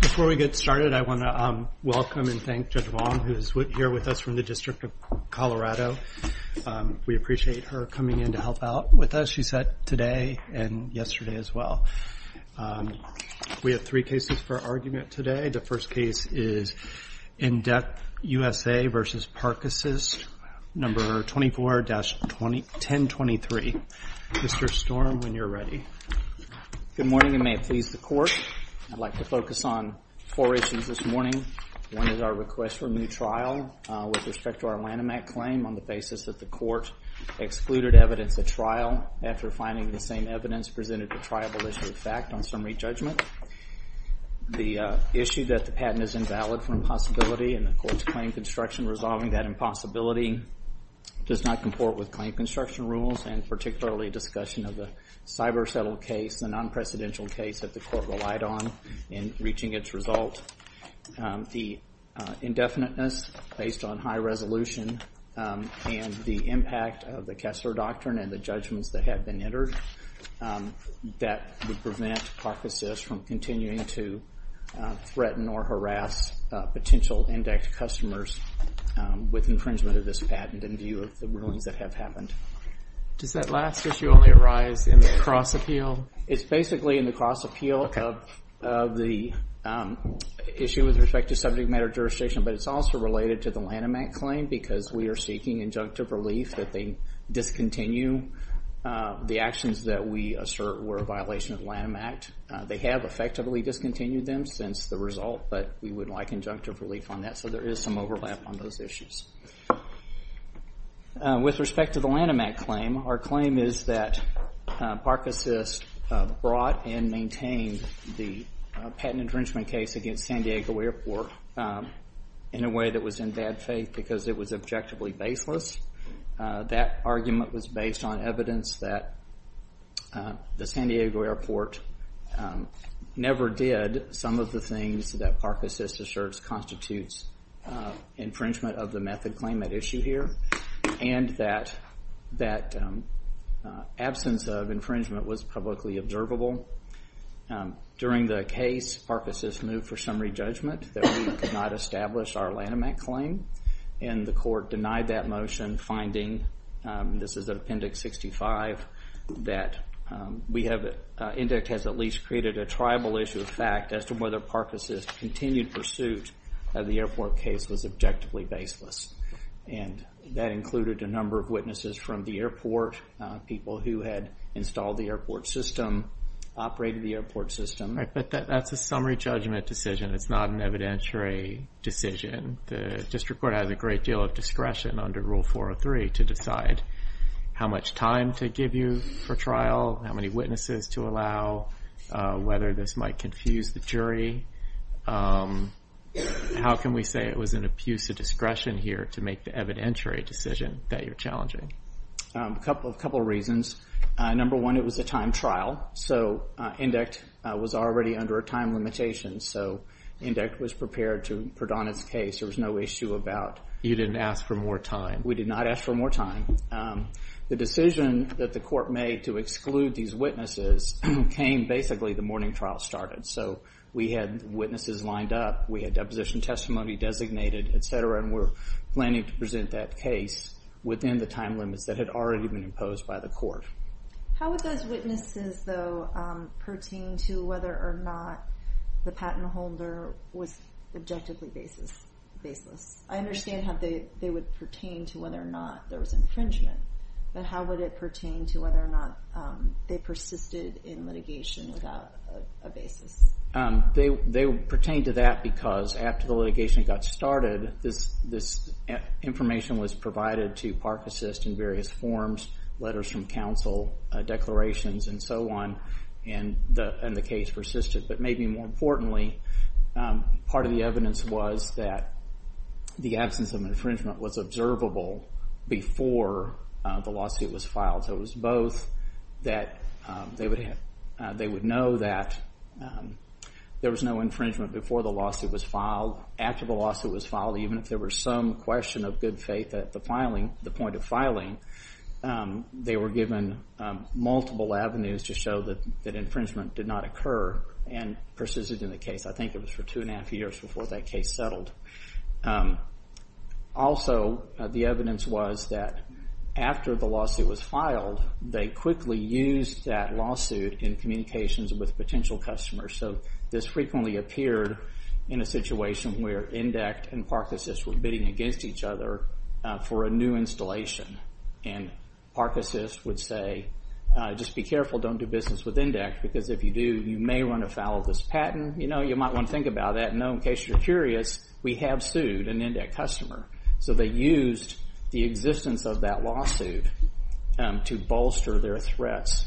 Before we get started, I want to welcome and thank Judge Wong, who is here with us from the District of Colorado. We appreciate her coming in to help out with us. She's here today and yesterday as well. We have three cases for argument today. The first case is Indect USA v. Park Assist, No. 24-1023. Mr. Storm, when you're ready. Good morning, and may it please the Court, I'd like to focus on four issues this morning. One is our request for a new trial with respect to our Lanham Act claim on the basis that the Court excluded evidence at trial after finding the same evidence presented to triable issue of fact on summary judgment. The issue that the patent is invalid for impossibility and the Court's claim construction resolving that impossibility does not comport with claim construction rules and particularly discussion of the cyber settle case, the non-precedential case that the Court relied on in reaching its result. The indefiniteness based on high resolution and the impact of the Kessler Doctrine and the judgments that have been entered that would prevent Park Assist from continuing to threaten or harass potential Indect customers with infringement of this patent in view of the rulings that have happened. Does that last issue only arise in the cross appeal? It's basically in the cross appeal of the issue with respect to subject matter jurisdiction, but it's also related to the Lanham Act claim because we are seeking injunctive relief that they discontinue the actions that we assert were a violation of the Lanham Act. They have effectively discontinued them since the result, but we would like injunctive relief on that, so there is some overlap on those issues. With respect to the Lanham Act claim, our claim is that Park Assist brought and maintained the patent infringement case against San Diego Airport in a way that was in bad faith because it was objectively baseless. That argument was based on evidence that the San Diego Airport never did some of the things that Park Assist asserts constitutes infringement of the method claim at issue here, and that absence of infringement was publicly observable. During the case, Park Assist moved for summary judgment that we could not establish our Lanham Act claim, and the court denied that motion, finding, this is at Appendix 65, that Indect has at least created a tribal issue of fact as to whether Park Assist's continued pursuit of the airport case was objectively baseless, and that included a number of witnesses from the airport, people who had installed the airport system, operated the airport system. Right, but that's a summary judgment decision. It's not an evidentiary decision. The district court has a great deal of discretion under Rule 403 to decide how much time to review for trial, how many witnesses to allow, whether this might confuse the jury. How can we say it was an abuse of discretion here to make the evidentiary decision that you're challenging? A couple of reasons. Number one, it was a time trial, so Indect was already under a time limitation, so Indect was prepared to put on its case. There was no issue about- You didn't ask for more time. We did not ask for more time. The decision that the court made to exclude these witnesses came basically the morning trial started. So we had witnesses lined up, we had deposition testimony designated, et cetera, and we're planning to present that case within the time limits that had already been imposed by the How would those witnesses, though, pertain to whether or not the patent holder was objectively baseless? I understand how they would pertain to whether or not there was infringement, but how would it pertain to whether or not they persisted in litigation without a basis? They pertain to that because after the litigation got started, this information was provided to Park Assist in various forms, letters from counsel, declarations, and so on, and the case persisted. But maybe more importantly, part of the evidence was that the absence of infringement was observable before the lawsuit was filed, so it was both that they would know that there was no infringement before the lawsuit was filed, after the lawsuit was filed, even if there was some question of good faith at the point of filing, they were given multiple avenues to show that infringement did not occur and persisted in the case. I think it was for two and a half years before that case settled. Also, the evidence was that after the lawsuit was filed, they quickly used that lawsuit in communications with potential customers. So this frequently appeared in a situation where Indec and Park Assist were bidding against each other for a new installation, and Park Assist would say, just be careful, don't do business with Indec, because if you do, you may run afoul of this patent, you might want to think about that, and in case you're curious, we have sued an Indec customer. So they used the existence of that lawsuit to bolster their threats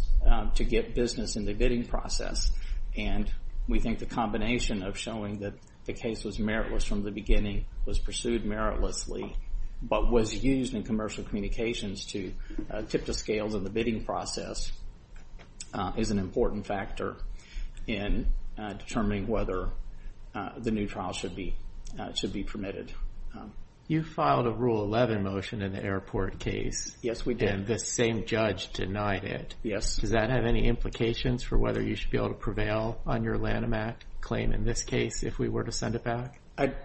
to get business in the bidding process, and we think the combination of showing that the case was meritless from the beginning, was pursued meritlessly, but was used in commercial communications to tip the scales in the bidding process, is an important factor in determining whether the new trial should be permitted. You filed a Rule 11 motion in the airport case. Yes, we did. And the same judge denied it. Yes. Does that have any implications for whether you should be able to prevail on your Lanham Act claim in this case if we were to send it back?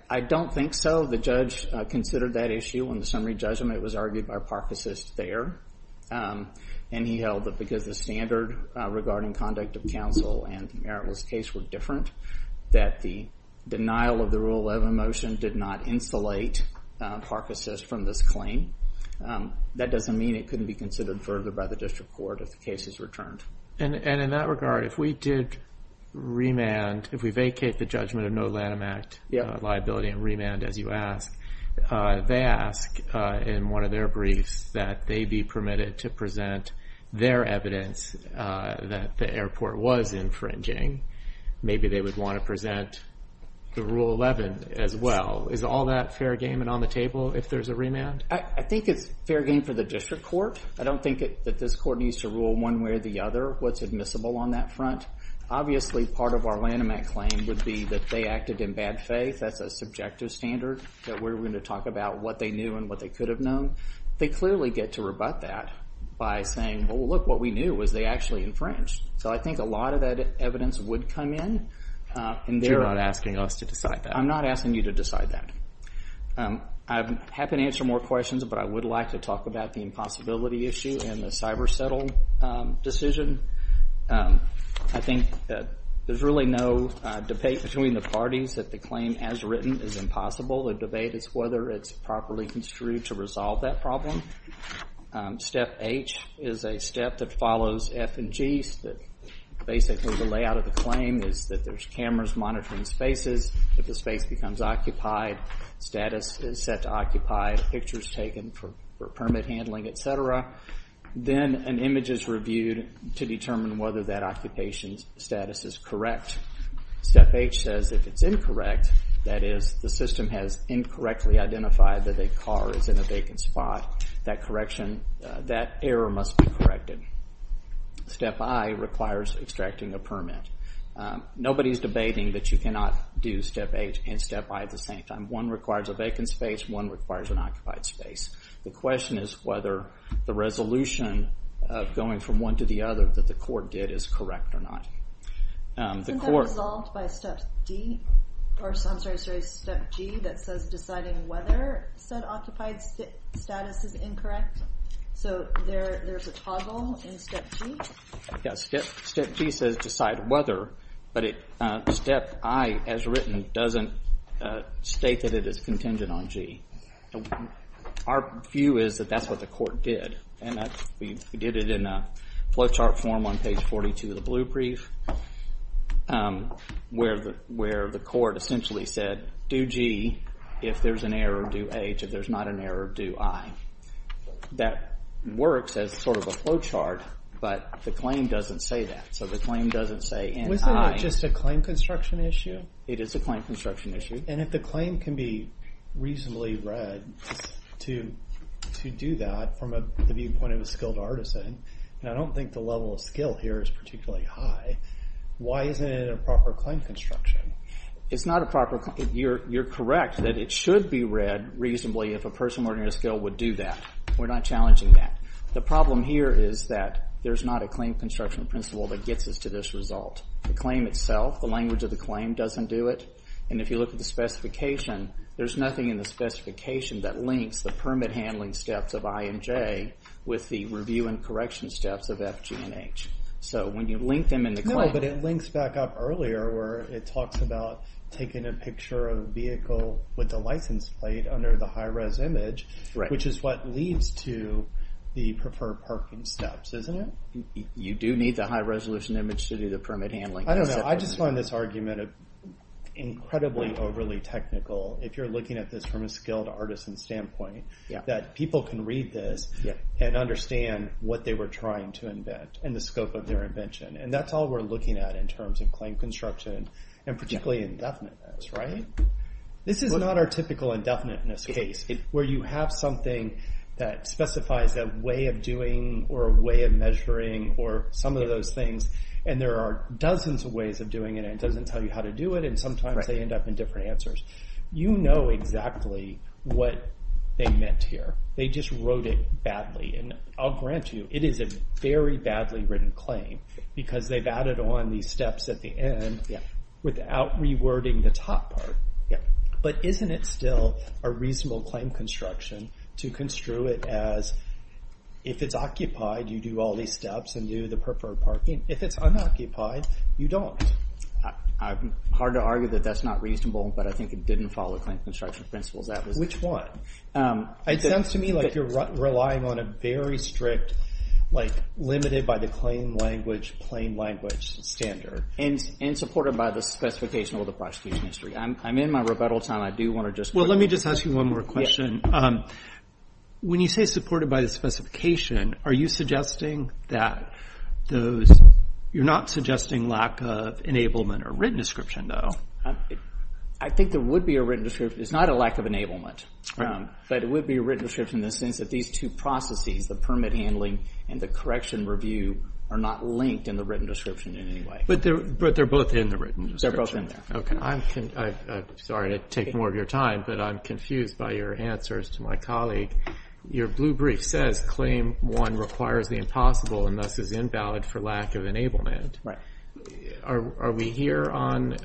I don't think so. The judge considered that issue on the summary judgment, it was argued by Park Assist there, and he held that because the standard regarding conduct of counsel and the meritless case were different, that the denial of the Rule 11 motion did not insulate Park Assist from this claim. That doesn't mean it couldn't be considered further by the district court if the case is returned. And in that regard, if we did remand, if we vacate the judgment of no Lanham Act liability and remand as you ask, they ask in one of their briefs that they be permitted to present their evidence that the airport was infringing. Maybe they would want to present the Rule 11 as well. Is all that fair game and on the table if there's a remand? I think it's fair game for the district court. I don't think that this court needs to rule one way or the other what's admissible on that front. Obviously, part of our Lanham Act claim would be that they acted in bad faith. If that's a subjective standard that we're going to talk about what they knew and what they could have known, they clearly get to rebut that by saying, well, look, what we knew was they actually infringed. So I think a lot of that evidence would come in. And they're not asking us to decide that. I'm not asking you to decide that. I'm happy to answer more questions, but I would like to talk about the impossibility issue and the cyber settle decision. I think that there's really no debate between the parties that the claim as written is impossible. The debate is whether it's properly construed to resolve that problem. Step H is a step that follows F and G's that basically the layout of the claim is that there's cameras monitoring spaces. If the space becomes occupied, status is set to occupied, pictures taken for permit handling, et cetera. Then an image is reviewed to determine whether that occupation status is correct. Step H says if it's incorrect, that is the system has incorrectly identified that a car is in a vacant spot, that error must be corrected. Step I requires extracting a permit. Nobody's debating that you cannot do step H and step I at the same time. One requires a vacant space. One requires an occupied space. The question is whether the resolution of going from one to the other that the court did is correct or not. The court- Isn't that resolved by step D? I'm sorry, step G that says deciding whether said occupied status is incorrect? There's a toggle in step G? Step G says decide whether, but step I as written doesn't state that it is contingent on G. Our view is that that's what the court did. We did it in a flowchart form on page 42 of the blue brief where the court essentially said do G if there's an error, do H if there's not an error, do I. That works as sort of a flowchart, but the claim doesn't say that, so the claim doesn't say and I- Isn't that just a claim construction issue? It is a claim construction issue. And if the claim can be reasonably read to do that from the viewpoint of a skilled artisan, and I don't think the level of skill here is particularly high, why isn't it a proper claim construction? It's not a proper- You're correct that it should be read reasonably if a person learning a skill would do that. We're not challenging that. The problem here is that there's not a claim construction principle that gets us to this result. The claim itself, the language of the claim doesn't do it. And if you look at the specification, there's nothing in the specification that links the permit handling steps of I and J with the review and correction steps of F, G, and H. So when you link them in the claim- No, but it links back up earlier where it talks about taking a picture of the vehicle with the license plate under the high res image, which is what leads to the preferred parking steps, isn't it? You do need the high-resolution image to do the permit handling. I don't know. I just find this argument incredibly overly technical, if you're looking at this from a skilled artisan standpoint, that people can read this and understand what they were trying to invent, and the scope of their invention. And that's all we're looking at in terms of claim construction, and particularly indefiniteness. This is not our typical indefiniteness case, where you have something that specifies a way of doing, or a way of measuring, or some of those things, and there are dozens of ways of doing it, and it doesn't tell you how to do it, and sometimes they end up in different answers. You know exactly what they meant here. They just wrote it badly, and I'll grant you, it is a very badly written claim, because they've added on these steps at the end without rewording the top part. But isn't it still a reasonable claim construction to construe it as, if it's occupied, you do all these steps, and do the preferred parking. If it's unoccupied, you don't. It's hard to argue that that's not reasonable, but I think it didn't follow the claim construction principles. Which one? It sounds to me like you're relying on a very strict, limited by the claim language, plain language standard. And supported by the specification of the prosecution history. I'm in my rebuttal time. I do want to just... Well, let me just ask you one more question. When you say supported by the specification, are you suggesting that those... You're not suggesting lack of enablement or written description, though? I think there would be a written description. It's not a lack of enablement, but it would be a written description in the sense that these two processes, the permit handling and the correction review, are not linked in the written description in any way. But they're both in the written description. They're both in there. Okay. I'm sorry to take more of your time, but I'm confused by your answers to my colleague. Your blue brief says claim one requires the impossible and thus is invalid for lack of enablement. Right. Are we here on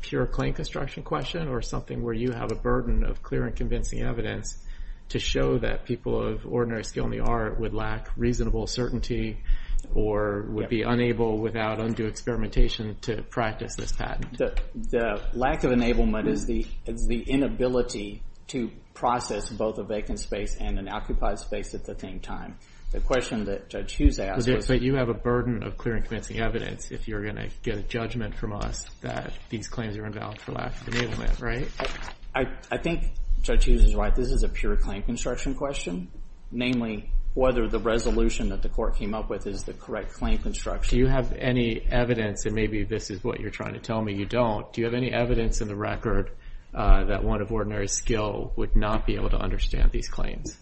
pure claim construction question or something where you have a burden of clear and convincing evidence to show that people of ordinary skill in the art would lack reasonable certainty or would be unable without undue experimentation to practice this patent? The lack of enablement is the inability to process both a vacant space and an occupied space at the same time. The question that Judge Hughes asked was... But you have a burden of clear and convincing evidence if you're going to get a judgment from us that these claims are invalid for lack of enablement, right? I think Judge Hughes is right. This is a pure claim construction question, namely whether the resolution that the court came up with is the correct claim construction. Do you have any evidence, and maybe this is what you're trying to tell me, you don't. Do you have any evidence in the record that one of ordinary skill would not be able to understand these claims?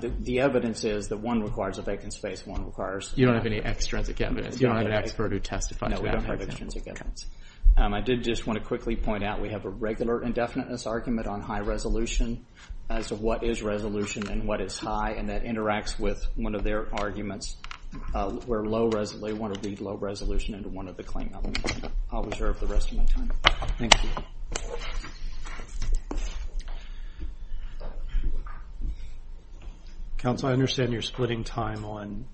The evidence is that one requires a vacant space, one requires... You don't have any extrinsic evidence. You don't have an expert who testifies to that. No, we don't have extrinsic evidence. I did just want to quickly point out we have a regular indefiniteness argument on high resolution as to what is resolution and what is high, and that interacts with one of their arguments where low resolution, they want to read low resolution into one of the claim elements. I'll reserve the rest of my time. Thank you. Counsel, I understand you're splitting time on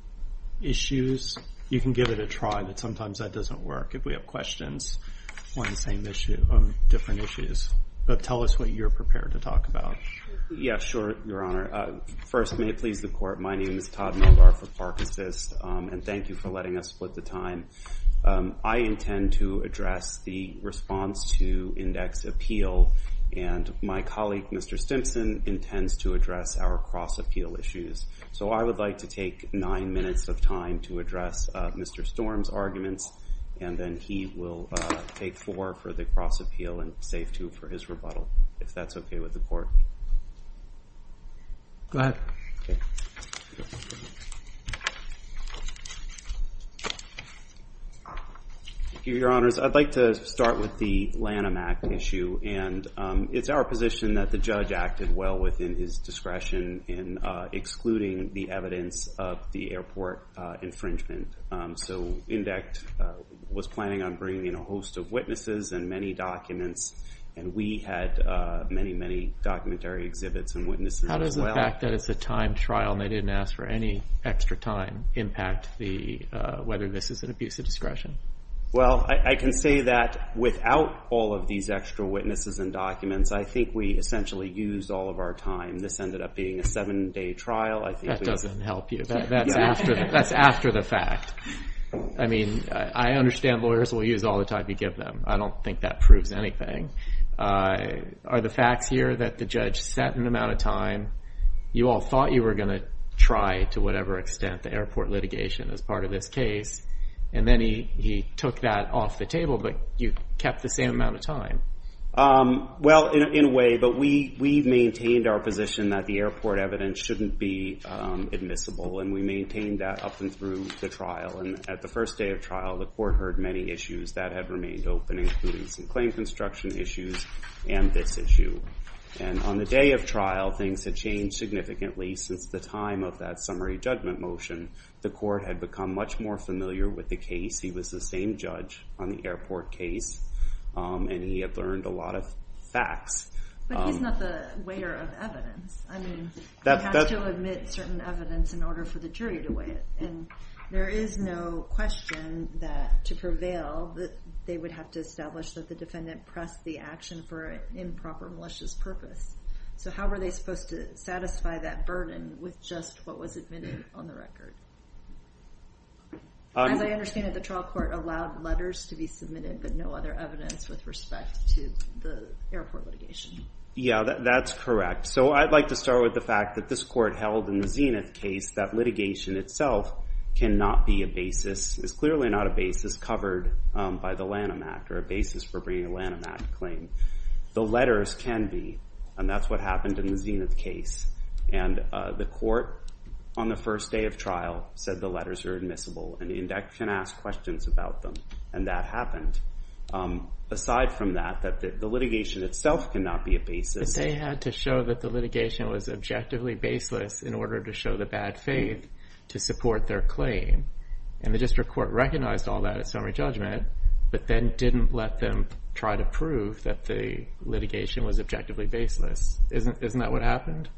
issues. You can give it a try, but sometimes that doesn't work if we have questions on the same issue, on different issues, but tell us what you're prepared to talk about. Yeah, sure, Your Honor. First, may it please the court, my name is Todd Movar for Park Assist, and thank you for letting us split the time. I intend to address the response to index appeal, and my colleague, Mr. Stimson, intends to address our cross appeal issues. So I would like to take nine minutes of time to address Mr. Storm's arguments, and then he will take four for the cross appeal, and save two for his rebuttal, if that's okay with the court. Go ahead. Thank you, Your Honors. I'd like to start with the Lanham Act issue, and it's our position that the judge acted well within his discretion in excluding the evidence of the airport infringement. So INDECT was planning on bringing in a host of witnesses and many documents, and we had many, many documentary exhibits and witnesses as well. How does the fact that it's a time trial, and they didn't ask for any extra time, impact the, whether this is an abuse of discretion? Well, I can say that without all of these extra witnesses and documents, I think we essentially used all of our time. This ended up being a seven day trial. That doesn't help you. That's after the fact. I mean, I understand lawyers will use all the time you give them. I don't think that proves anything. Are the facts here that the judge set an amount of time? You all thought you were going to try, to whatever extent, the airport litigation as part of this case, and then he took that off the table, but you kept the same amount of time. Well, in a way, but we've maintained our position that the airport evidence shouldn't be admissible, and we maintained that up and through the trial, and at the first day of trial, the court heard many issues that had remained open, including some claim construction issues and this issue, and on the day of trial, things had changed significantly since the time of that summary judgment motion. The court had become much more familiar with the case. He was the same judge on the airport case, and he had learned a lot of facts. But he's not the weigher of evidence. I mean, he has to admit certain evidence in order for the jury to weigh it, and there is no question that to prevail, they would have to establish that the defendant pressed the action for improper malicious purpose. So how were they supposed to satisfy that burden with just what was admitted on the record? As I understand it, the trial court allowed letters to be submitted, but no other evidence with respect to the airport litigation. Yeah, that's correct. So I'd like to start with the fact that this court held in the Zenith case that litigation itself cannot be a basis, is clearly not a basis covered by the Lanham Act, or a basis for bringing a Lanham Act claim. The letters can be, and that's what happened in the Zenith case. And the court, on the first day of trial, said the letters are admissible, and the index can ask questions about them, and that happened. Aside from that, that the litigation itself cannot be a basis. But they had to show that the litigation was objectively baseless in order to show the bad faith to support their claim. And the district court recognized all that at summary judgment, but then didn't let them try to prove that the litigation was objectively baseless. Isn't that what happened?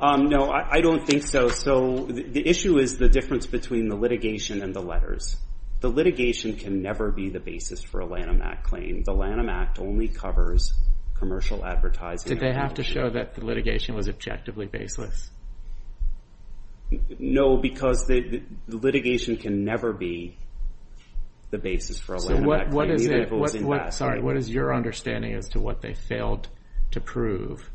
No, I don't think so. So the issue is the difference between the litigation and the letters. The litigation can never be the basis for a Lanham Act claim. The Lanham Act only covers commercial advertising. Did they have to show that the litigation was objectively baseless? No, because the litigation can never be the basis for a Lanham Act claim, even if it was What is your understanding as to what they failed to prove?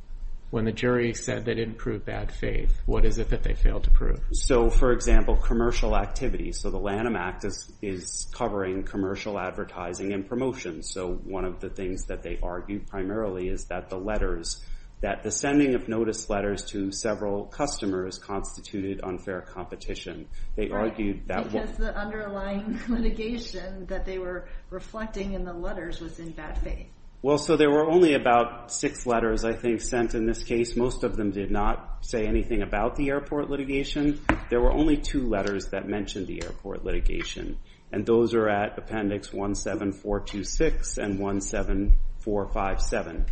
When the jury said they didn't prove bad faith, what is it that they failed to prove? So for example, commercial activity. So the Lanham Act is covering commercial advertising and promotion. So one of the things that they argued primarily is that the letters, that the sending of notice letters to several customers constituted unfair competition. They argued that the underlying litigation that they were reflecting in the letters was in bad faith. Well, so there were only about six letters, I think, sent in this case. Most of them did not say anything about the airport litigation. There were only two letters that mentioned the airport litigation. And those are at appendix 17426 and 17457.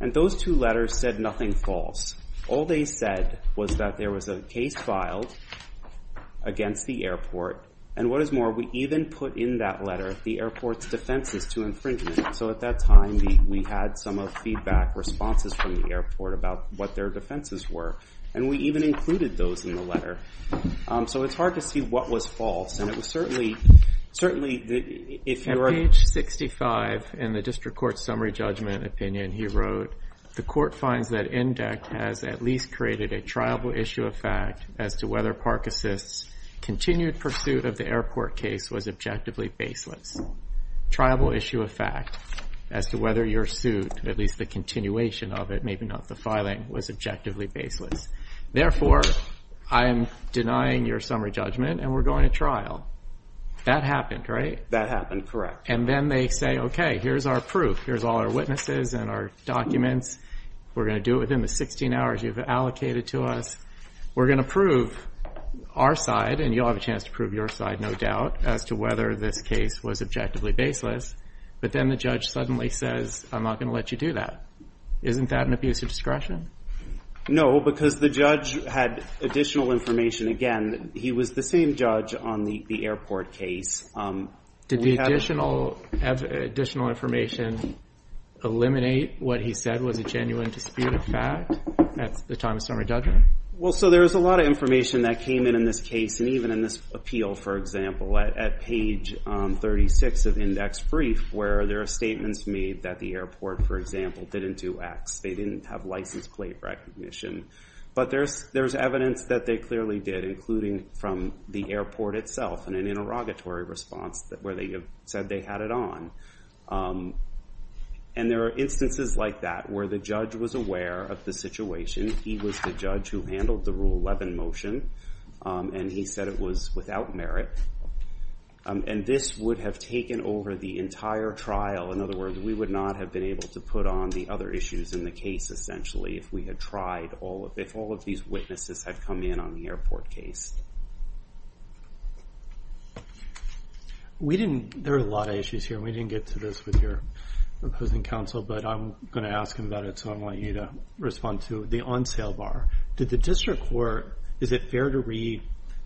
And those two letters said nothing false. All they said was that there was a case filed against the airport. And what is more, we even put in that letter the airport's defenses to infringement. So at that time, we had some feedback responses from the airport about what their defenses were. And we even included those in the letter. So it's hard to see what was false. And it was certainly, certainly, if you were At page 65 in the district court summary judgment opinion, he wrote, the court finds that INDEC has at least created a triable issue of fact as to whether Park Assist's continued pursuit of the airport case was objectively baseless. Triable issue of fact as to whether your suit, at least the continuation of it, maybe not the filing, was objectively baseless. Therefore, I am denying your summary judgment and we're going to trial. That happened, right? That happened, correct. And then they say, okay, here's our proof. Here's all our witnesses and our documents. We're going to do it within the 16 hours you've allocated to us. We're going to prove our side, and you'll have a chance to prove your side, no doubt, as to whether this case was objectively baseless. But then the judge suddenly says, I'm not going to let you do that. Isn't that an abuse of discretion? No, because the judge had additional information. Again, he was the same judge on the airport case. Did the additional information eliminate what he said was a genuine dispute of fact at the time of summary judgment? Well, so there's a lot of information that came in in this case, and even in this appeal, for example, at page 36 of index brief, where there are statements made that the airport, for example, didn't do X. They didn't have license plate recognition. But there's evidence that they clearly did, including from the airport itself in an interrogatory response where they said they had it on. And there are instances like that where the judge was aware of the situation. He was the judge who handled the Rule 11 motion, and he said it was without merit. And this would have taken over the entire trial. In other words, we would not have been able to put on the other issues in the case, essentially, if we had tried all of it, if all of these witnesses had come in on the airport case. We didn't, there are a lot of issues here. We didn't get to this with your opposing counsel, but I'm going to ask him about it. So I want you to respond to the on-sale bar. Did the district court, is it fair to read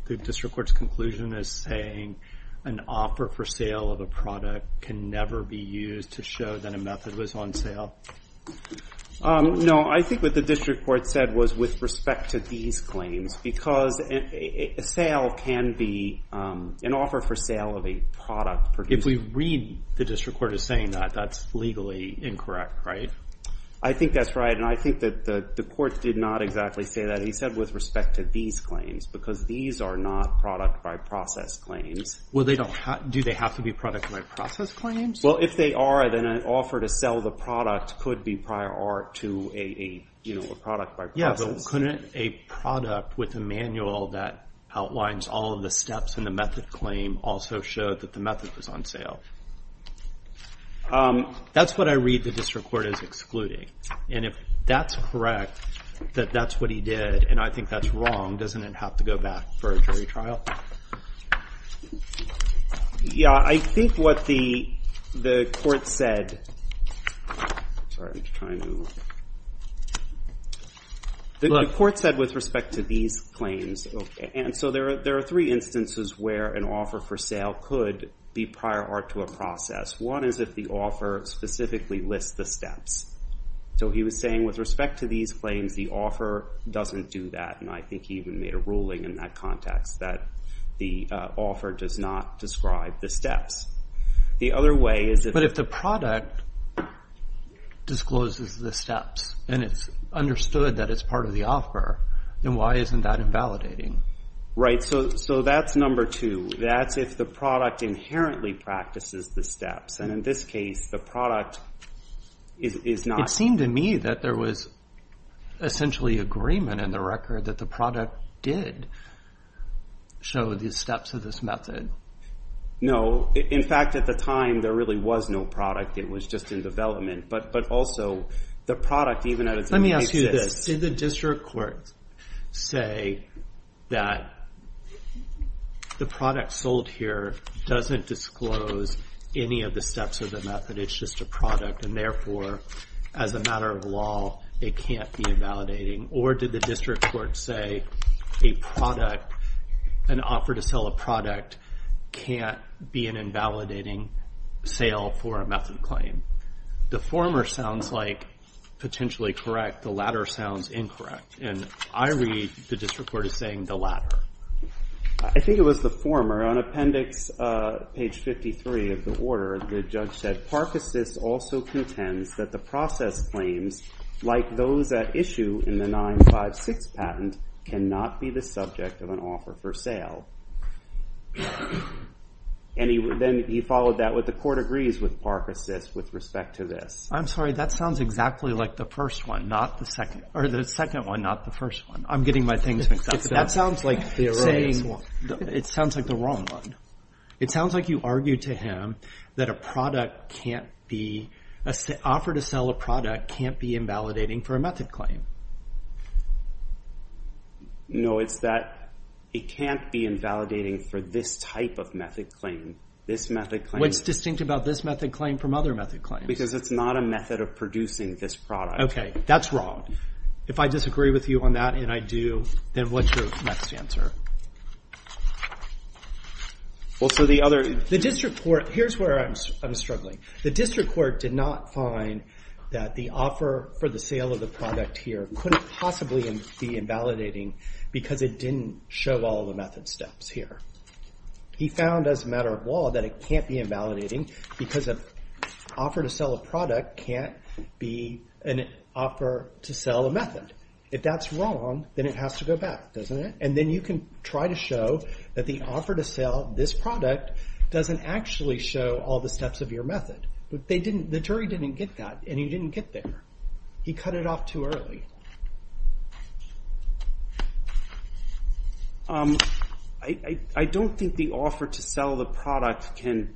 the district court's conclusion as saying an offer for sale of a product can never be used to show that a method was on sale? No, I think what the district court said was with respect to these claims. Because a sale can be, an offer for sale of a product. If we read the district court as saying that, that's legally incorrect, right? I think that's right, and I think that the court did not exactly say that. He said with respect to these claims, because these are not product-by-process claims. Well, do they have to be product-by-process claims? Well, if they are, then an offer to sell the product could be prior art to a product-by-process. Yeah, but couldn't a product with a manual that outlines all of the steps in the method claim also show that the method was on sale? That's what I read the district court as excluding. And if that's correct, that that's what he did, and I think that's wrong, doesn't it have to go back for a jury trial? Yeah, I think what the court said, sorry, I'm just trying to. The court said with respect to these claims, and so there are three instances where an offer for sale could be prior art to a process. One is if the offer specifically lists the steps. So he was saying with respect to these claims, the offer doesn't do that, and I think he even made a ruling in that context, that the offer does not describe the steps. The other way is if- But if the product discloses the steps, and it's understood that it's part of the offer, then why isn't that invalidating? Right, so that's number two. That's if the product inherently practices the steps. And in this case, the product is not- It seemed to me that there was essentially agreement in the record that the product did show the steps of this method. No, in fact, at the time, there really was no product. It was just in development. But also, the product, even though it's- Let me ask you this. Did the district court say that the product sold here doesn't disclose any of the steps of the method, it's just a product, and therefore, as a matter of law, it can't be invalidating? Or did the district court say an offer to sell a product can't be an invalidating sale for a method claim? The former sounds like potentially correct. The latter sounds incorrect. And I read the district court as saying the latter. I think it was the former. On appendix page 53 of the order, the judge said, Park Assist also contends that the process claims, like those at issue in the 956 patent, cannot be the subject of an offer for sale. And then he followed that with the court agrees with Park Assist with respect to this. I'm sorry. That sounds exactly like the first one, not the second. Or the second one, not the first one. I'm getting my things mixed up. That sounds like the wrong one. It sounds like you argued to him that an offer to sell a product can't be invalidating for a method claim. No, it's that it can't be invalidating for this type of method claim. This method claim- What's distinct about this method claim from other method claims? Because it's not a method of producing this product. OK. That's wrong. If I disagree with you on that, and I do, then what's your next answer? Well, so the other- The district court- Here's where I'm struggling. The district court did not find that the offer for the sale of the product here couldn't possibly be invalidating because it didn't show all the method steps here. He found, as a matter of law, that it can't be invalidating because an offer to sell a product can't be an offer to sell a method. If that's wrong, then it has to go back, doesn't it? And then you can try to show that the offer to sell this product doesn't actually show all the steps of your method. But the jury didn't get that, and he didn't get there. He cut it off too early. I don't think the offer to sell the product can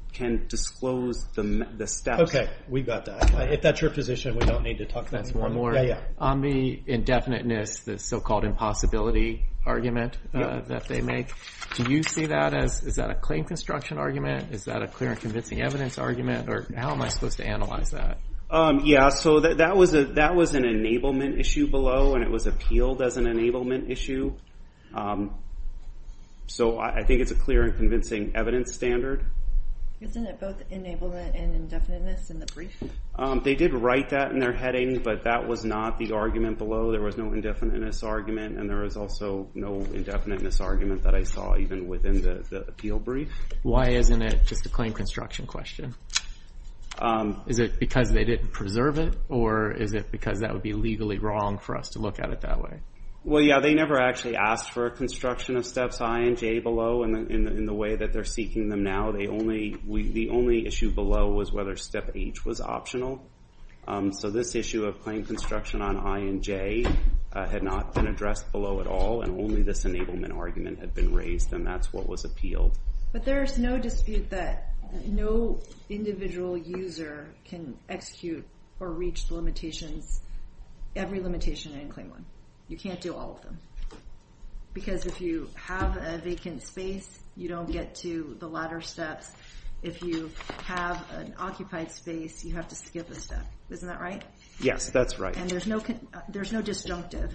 disclose the steps. We got that. If that's your position, we don't need to talk about it anymore. On the indefiniteness, the so-called impossibility argument that they make, do you see that as- is that a claim construction argument? Is that a clear and convincing evidence argument? Or how am I supposed to analyze that? Yeah. So that was an enablement issue. It was an enablement issue below, and it was appealed as an enablement issue. So I think it's a clear and convincing evidence standard. Isn't it both enablement and indefiniteness in the brief? They did write that in their heading, but that was not the argument below. There was no indefiniteness argument, and there was also no indefiniteness argument that I saw even within the appeal brief. Why isn't it just a claim construction question? Is it because they didn't preserve it? Or is it because that would be legally wrong for us to look at it that way? Well, yeah. They never actually asked for a construction of Steps I and J below in the way that they're seeking them now. The only issue below was whether Step H was optional. So this issue of claim construction on I and J had not been addressed below at all, and only this enablement argument had been raised, and that's what was appealed. But there's no dispute that no individual user can execute or reach the limitations, every limitation in Claim I. You can't do all of them. Because if you have a vacant space, you don't get to the latter steps. If you have an occupied space, you have to skip a step. Isn't that right? Yes, that's right. And there's no disjunctive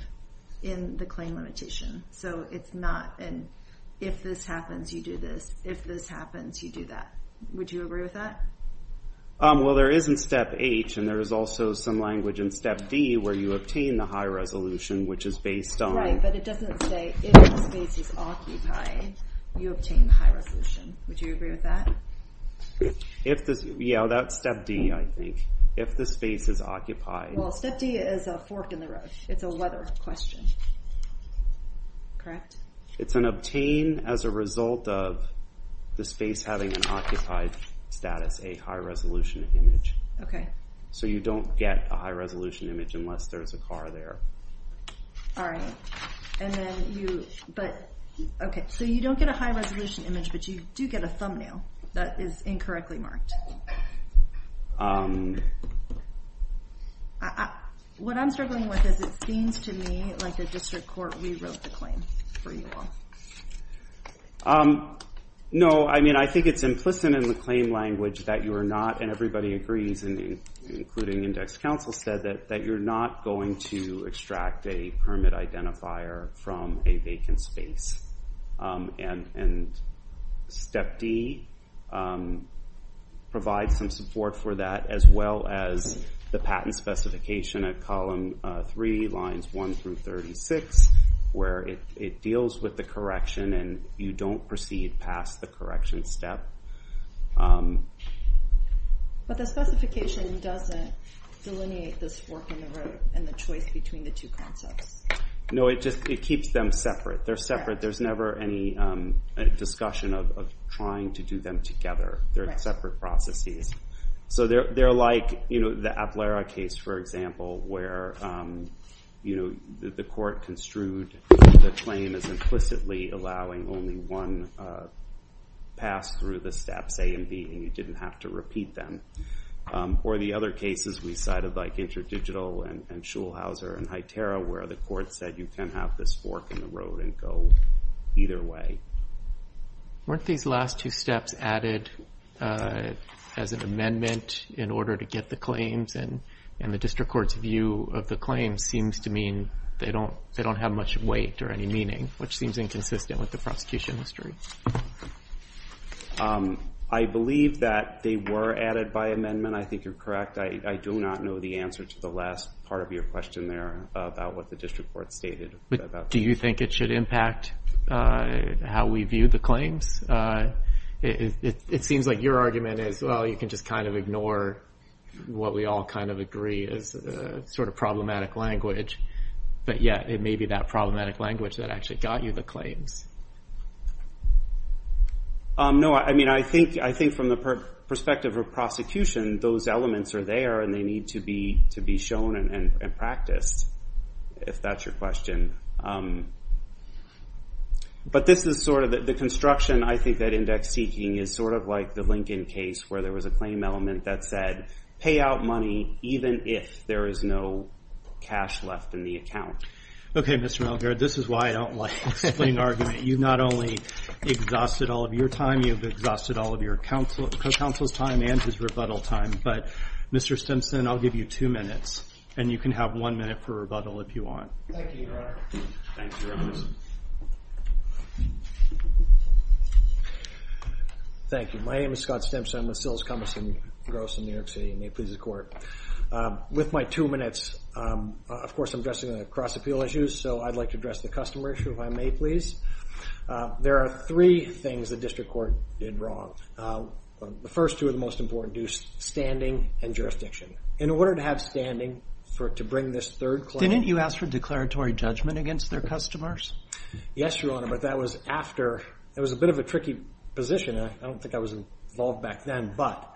in the claim limitation. So it's not an, if this happens, you do this. If this happens, you do that. Would you agree with that? Well, there is in Step H, and there is also some language in Step D, where you obtain the high resolution, which is based on... Right, but it doesn't say, if the space is occupied, you obtain the high resolution. Would you agree with that? Yeah, that's Step D, I think. If the space is occupied. Well, Step D is a fork in the road. It's a weather question, correct? It's an obtain as a result of the space having an occupied status, a high resolution image. Okay. So you don't get a high resolution image unless there's a car there. All right. And then you, but, okay. So you don't get a high resolution image, but you do get a thumbnail that is incorrectly marked. What I'm struggling with is, it seems to me like the district court rewrote the claim for you all. No, I mean, I think it's implicit in the claim language that you are not, and everybody agrees, including index counsel, said that you're not going to extract a permit identifier from a vacant space. And Step D provides some support for that, as well as the patent specification at Column 3, Lines 1 through 36, where it deals with the correction, and you don't proceed past the correction step. But the specification doesn't delineate this fork in the road and the choice between the two concepts. No, it just, it keeps them separate. There's never any discussion of trying to do them together. They're separate processes. So they're like the Aplera case, for example, where the court construed the claim as implicitly allowing only one pass through the steps A and B, and you didn't have to repeat them. Or the other cases we cited, like Interdigital and Schulhauser and Highterra, where the court said you can have this fork in the road and go either way. Weren't these last two steps added as an amendment in order to get the claims? And the district court's view of the claims seems to mean they don't have much weight or any meaning, which seems inconsistent with the prosecution history. I believe that they were added by amendment. I think you're correct. I do not know the answer to the last part of your question there about what the district court stated. Do you think it should impact how we view the claims? It seems like your argument is, well, you can just kind of ignore what we all kind of agree is sort of problematic language. But yeah, it may be that problematic language that actually got you the claims. No, I mean, I think from the perspective of prosecution, those elements are there, and they need to be shown and practiced, if that's your question. But this is sort of the construction, I think, that index seeking is sort of like the Lincoln case, where there was a claim element that said, pay out money, even if there is no cash left in the account. OK, Mr. Melgar, this is why I don't like explaining argument. You've not only exhausted all of your time, you've exhausted all of your counsel's time and his rebuttal time. But Mr. Stimson, I'll give you two minutes, and you can have one minute for rebuttal, if you want. Thank you, Your Honor. Thanks, Your Honor. Thank you. My name is Scott Stimson. I'm with Sills, Cummins, and Gross in New York City. I may please the court. With my two minutes, of course, I'm addressing cross-appeal issues, so I'd like to address the customer issue, if I may please. There are three things the district court did wrong. The first two are the most important, standing and jurisdiction. In order to have standing, to bring this third claim... Didn't you ask for declaratory judgment against their customers? Yes, Your Honor, but that was after... It was a bit of a tricky position, and I don't think I was involved back then, but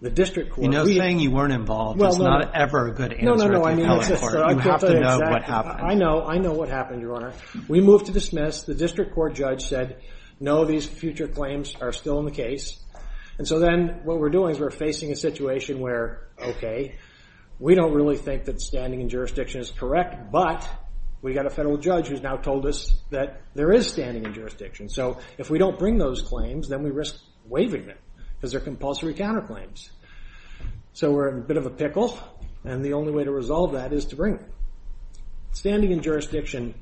the district court... You know, saying you weren't involved is not ever a good answer at the appellate court. You have to know what happened. I know what happened, Your Honor. We moved to dismiss. The district court judge said, no, these future claims are still in the case. And so then what we're doing is we're facing a situation where, okay, we don't really think that standing and jurisdiction is correct, but we've got a federal judge who's now told us that there is standing and jurisdiction. So if we don't bring those claims, then we risk waiving them, because they're compulsory counterclaims. So we're in a bit of a pickle, and the only way to resolve that is to bring them. Standing and jurisdiction,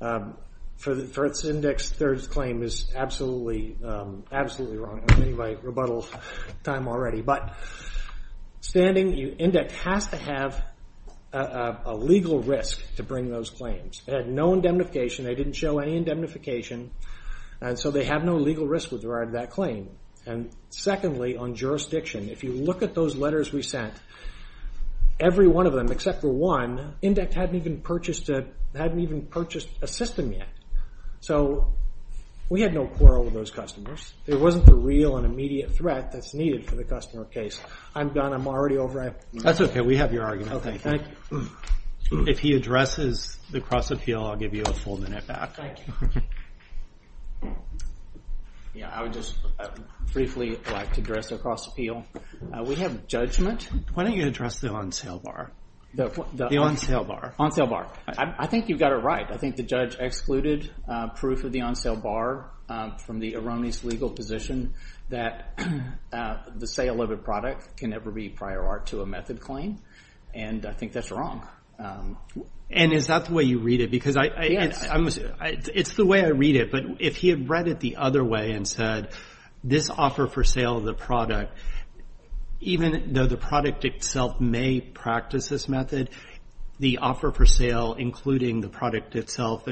for its index third claim, is absolutely wrong. I'm ending my rebuttal time already. But standing index has to have a legal risk to bring those claims. It had no indemnification. They didn't show any indemnification, and so they have no legal risk with regard to that claim. And secondly, on jurisdiction, if you look at those letters we sent, every one of them except for one, index hadn't even purchased a system yet. So we had no quarrel with those customers. There wasn't the real and immediate threat that's needed for the customer case. I'm done. I'm already over. That's okay. We have your argument. Thank you. If he addresses the cross-appeal, I'll give you a full minute back. Thank you. Yeah, I would just briefly like to address the cross-appeal. We have judgment. Why don't you address the on-sale bar? The on-sale bar. On-sale bar. I think you've got it right. I think the judge excluded proof of the on-sale bar from the erroneous legal position that the sale of a product can never be prior art to a method claim, and I think that's wrong. And is that the way you read it? Because it's the way I read it, but if he had read it the other way and said this offer for sale of the product, even though the product itself may practice this method, the offer for sale including the product itself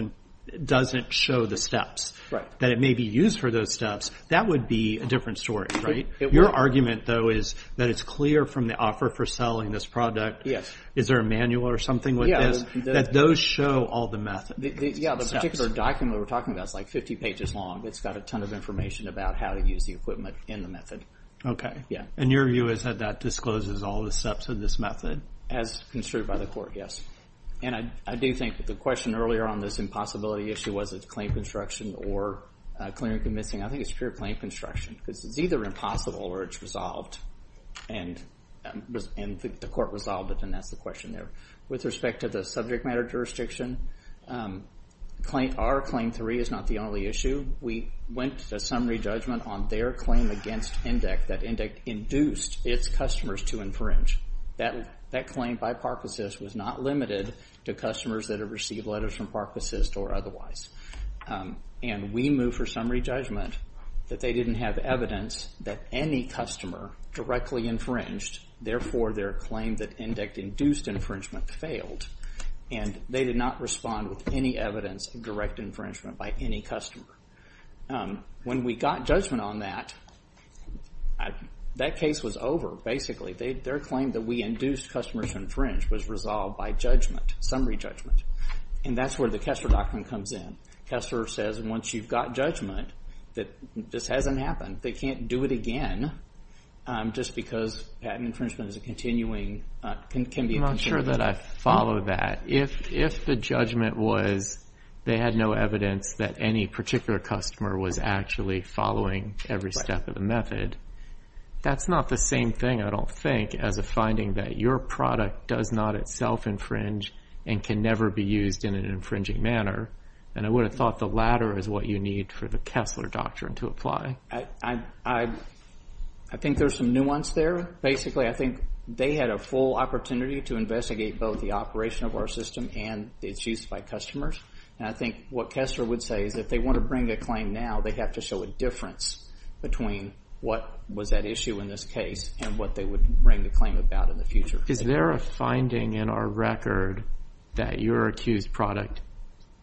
doesn't show the steps. That it may be used for those steps, that would be a different story, right? Your argument, though, is that it's clear from the offer for selling this product, is there a manual or something like this, that those show all the methods. Yeah, the particular document we're talking about is like 50 pages long. It's got a ton of information about how to use the equipment in the method. Okay. And your view is that that discloses all the steps of this method? As construed by the court, yes. And I do think that the question earlier on this impossibility issue was it's claim construction or clear and convincing. I think it's pure claim construction because it's either impossible or it's resolved. And the court resolved it, and that's the question there. With respect to the subject matter jurisdiction, our claim three is not the only issue. We went to summary judgment on their claim against Indec, that Indec induced its customers to infringe. That claim by Park Assist was not limited to customers that have received letters from Park Assist or otherwise. And we moved for summary judgment that they didn't have evidence that any customer directly infringed. Therefore, their claim that Indec induced infringement failed. And they did not respond with any evidence of direct infringement by any customer. When we got judgment on that, that case was over, basically. Their claim that we induced customers to infringe was resolved by judgment, summary judgment. And that's where the Kessler Doctrine comes in. Kessler says, once you've got judgment, that this hasn't happened. They can't do it again just because patent infringement is a continuing, can be a continuing offense. I'm not sure that I follow that. If the judgment was they had no evidence that any particular customer was actually following every step of the method, that's not the same thing, I don't think, as a finding that your product does not itself infringe and can never be used in an infringing manner. And I would have thought the latter is what you need for the Kessler Doctrine to apply. I think there's some nuance there. Basically, I think they had a full opportunity to investigate both the operation of our system and its use by customers. And I think what Kessler would say is if they want to bring a claim now, they have to show a difference between what was at issue in this case and what they would bring the claim about in the future. Is there a finding in our record that your accused product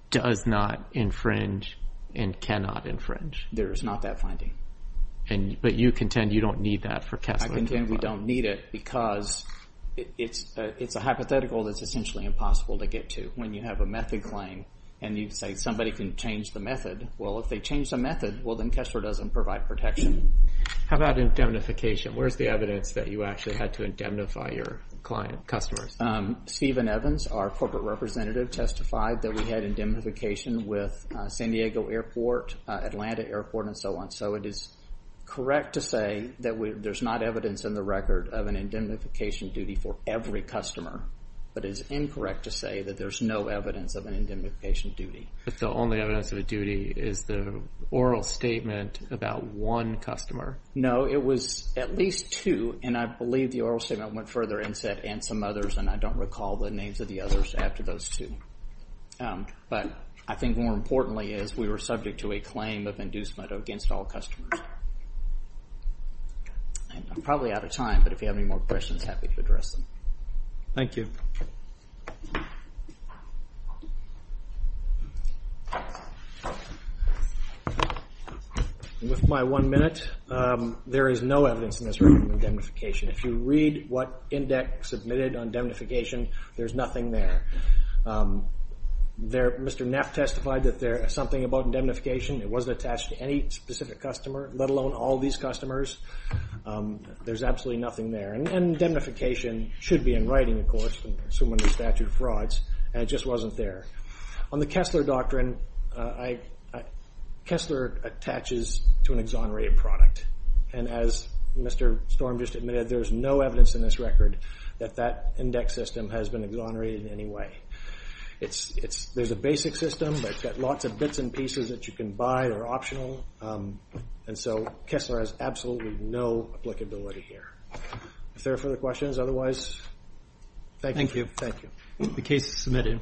does not infringe and cannot infringe? There is not that finding. But you contend you don't need that for Kessler to apply? I contend we don't need it because it's a hypothetical that's essentially impossible to get to. When you have a method claim and you say somebody can change the method, well, if they change the method, well, then Kessler doesn't provide protection. How about indemnification? Where's the evidence that you actually had to indemnify your client customers? Stephen Evans, our corporate representative, testified that we had indemnification with San Diego Airport, Atlanta Airport, and so on. So it is correct to say that there's not evidence in the record of an indemnification duty for every customer, but it's incorrect to say that there's no evidence of an indemnification duty. But the only evidence of a duty is the oral statement about one customer? No, it was at least two. And I believe the oral statement went further and said, and some others, and I don't recall the names of the others after those two. But I think more importantly is we were subject to a claim of inducement against all customers. And I'm probably out of time, but if you have any more questions, happy to address them. Thank you. With my one minute, there is no evidence in this record of indemnification. If you read what index submitted on indemnification, there's nothing there. Mr. Neff testified that there is something about indemnification. It wasn't attached to any specific customer, let alone all these customers. There's absolutely nothing there. And indemnification should be in writing, of course, assuming the statute of frauds, and it just wasn't there. On the Kessler Doctrine, Kessler attaches to an exonerated product. And as Mr. Storm just admitted, there's no evidence in this record that that index system has been exonerated in any way. There's a basic system, but it's got lots of bits and pieces that you can buy that are optional. And so Kessler has absolutely no applicability here. If there are further questions, otherwise, thank you. The case is submitted.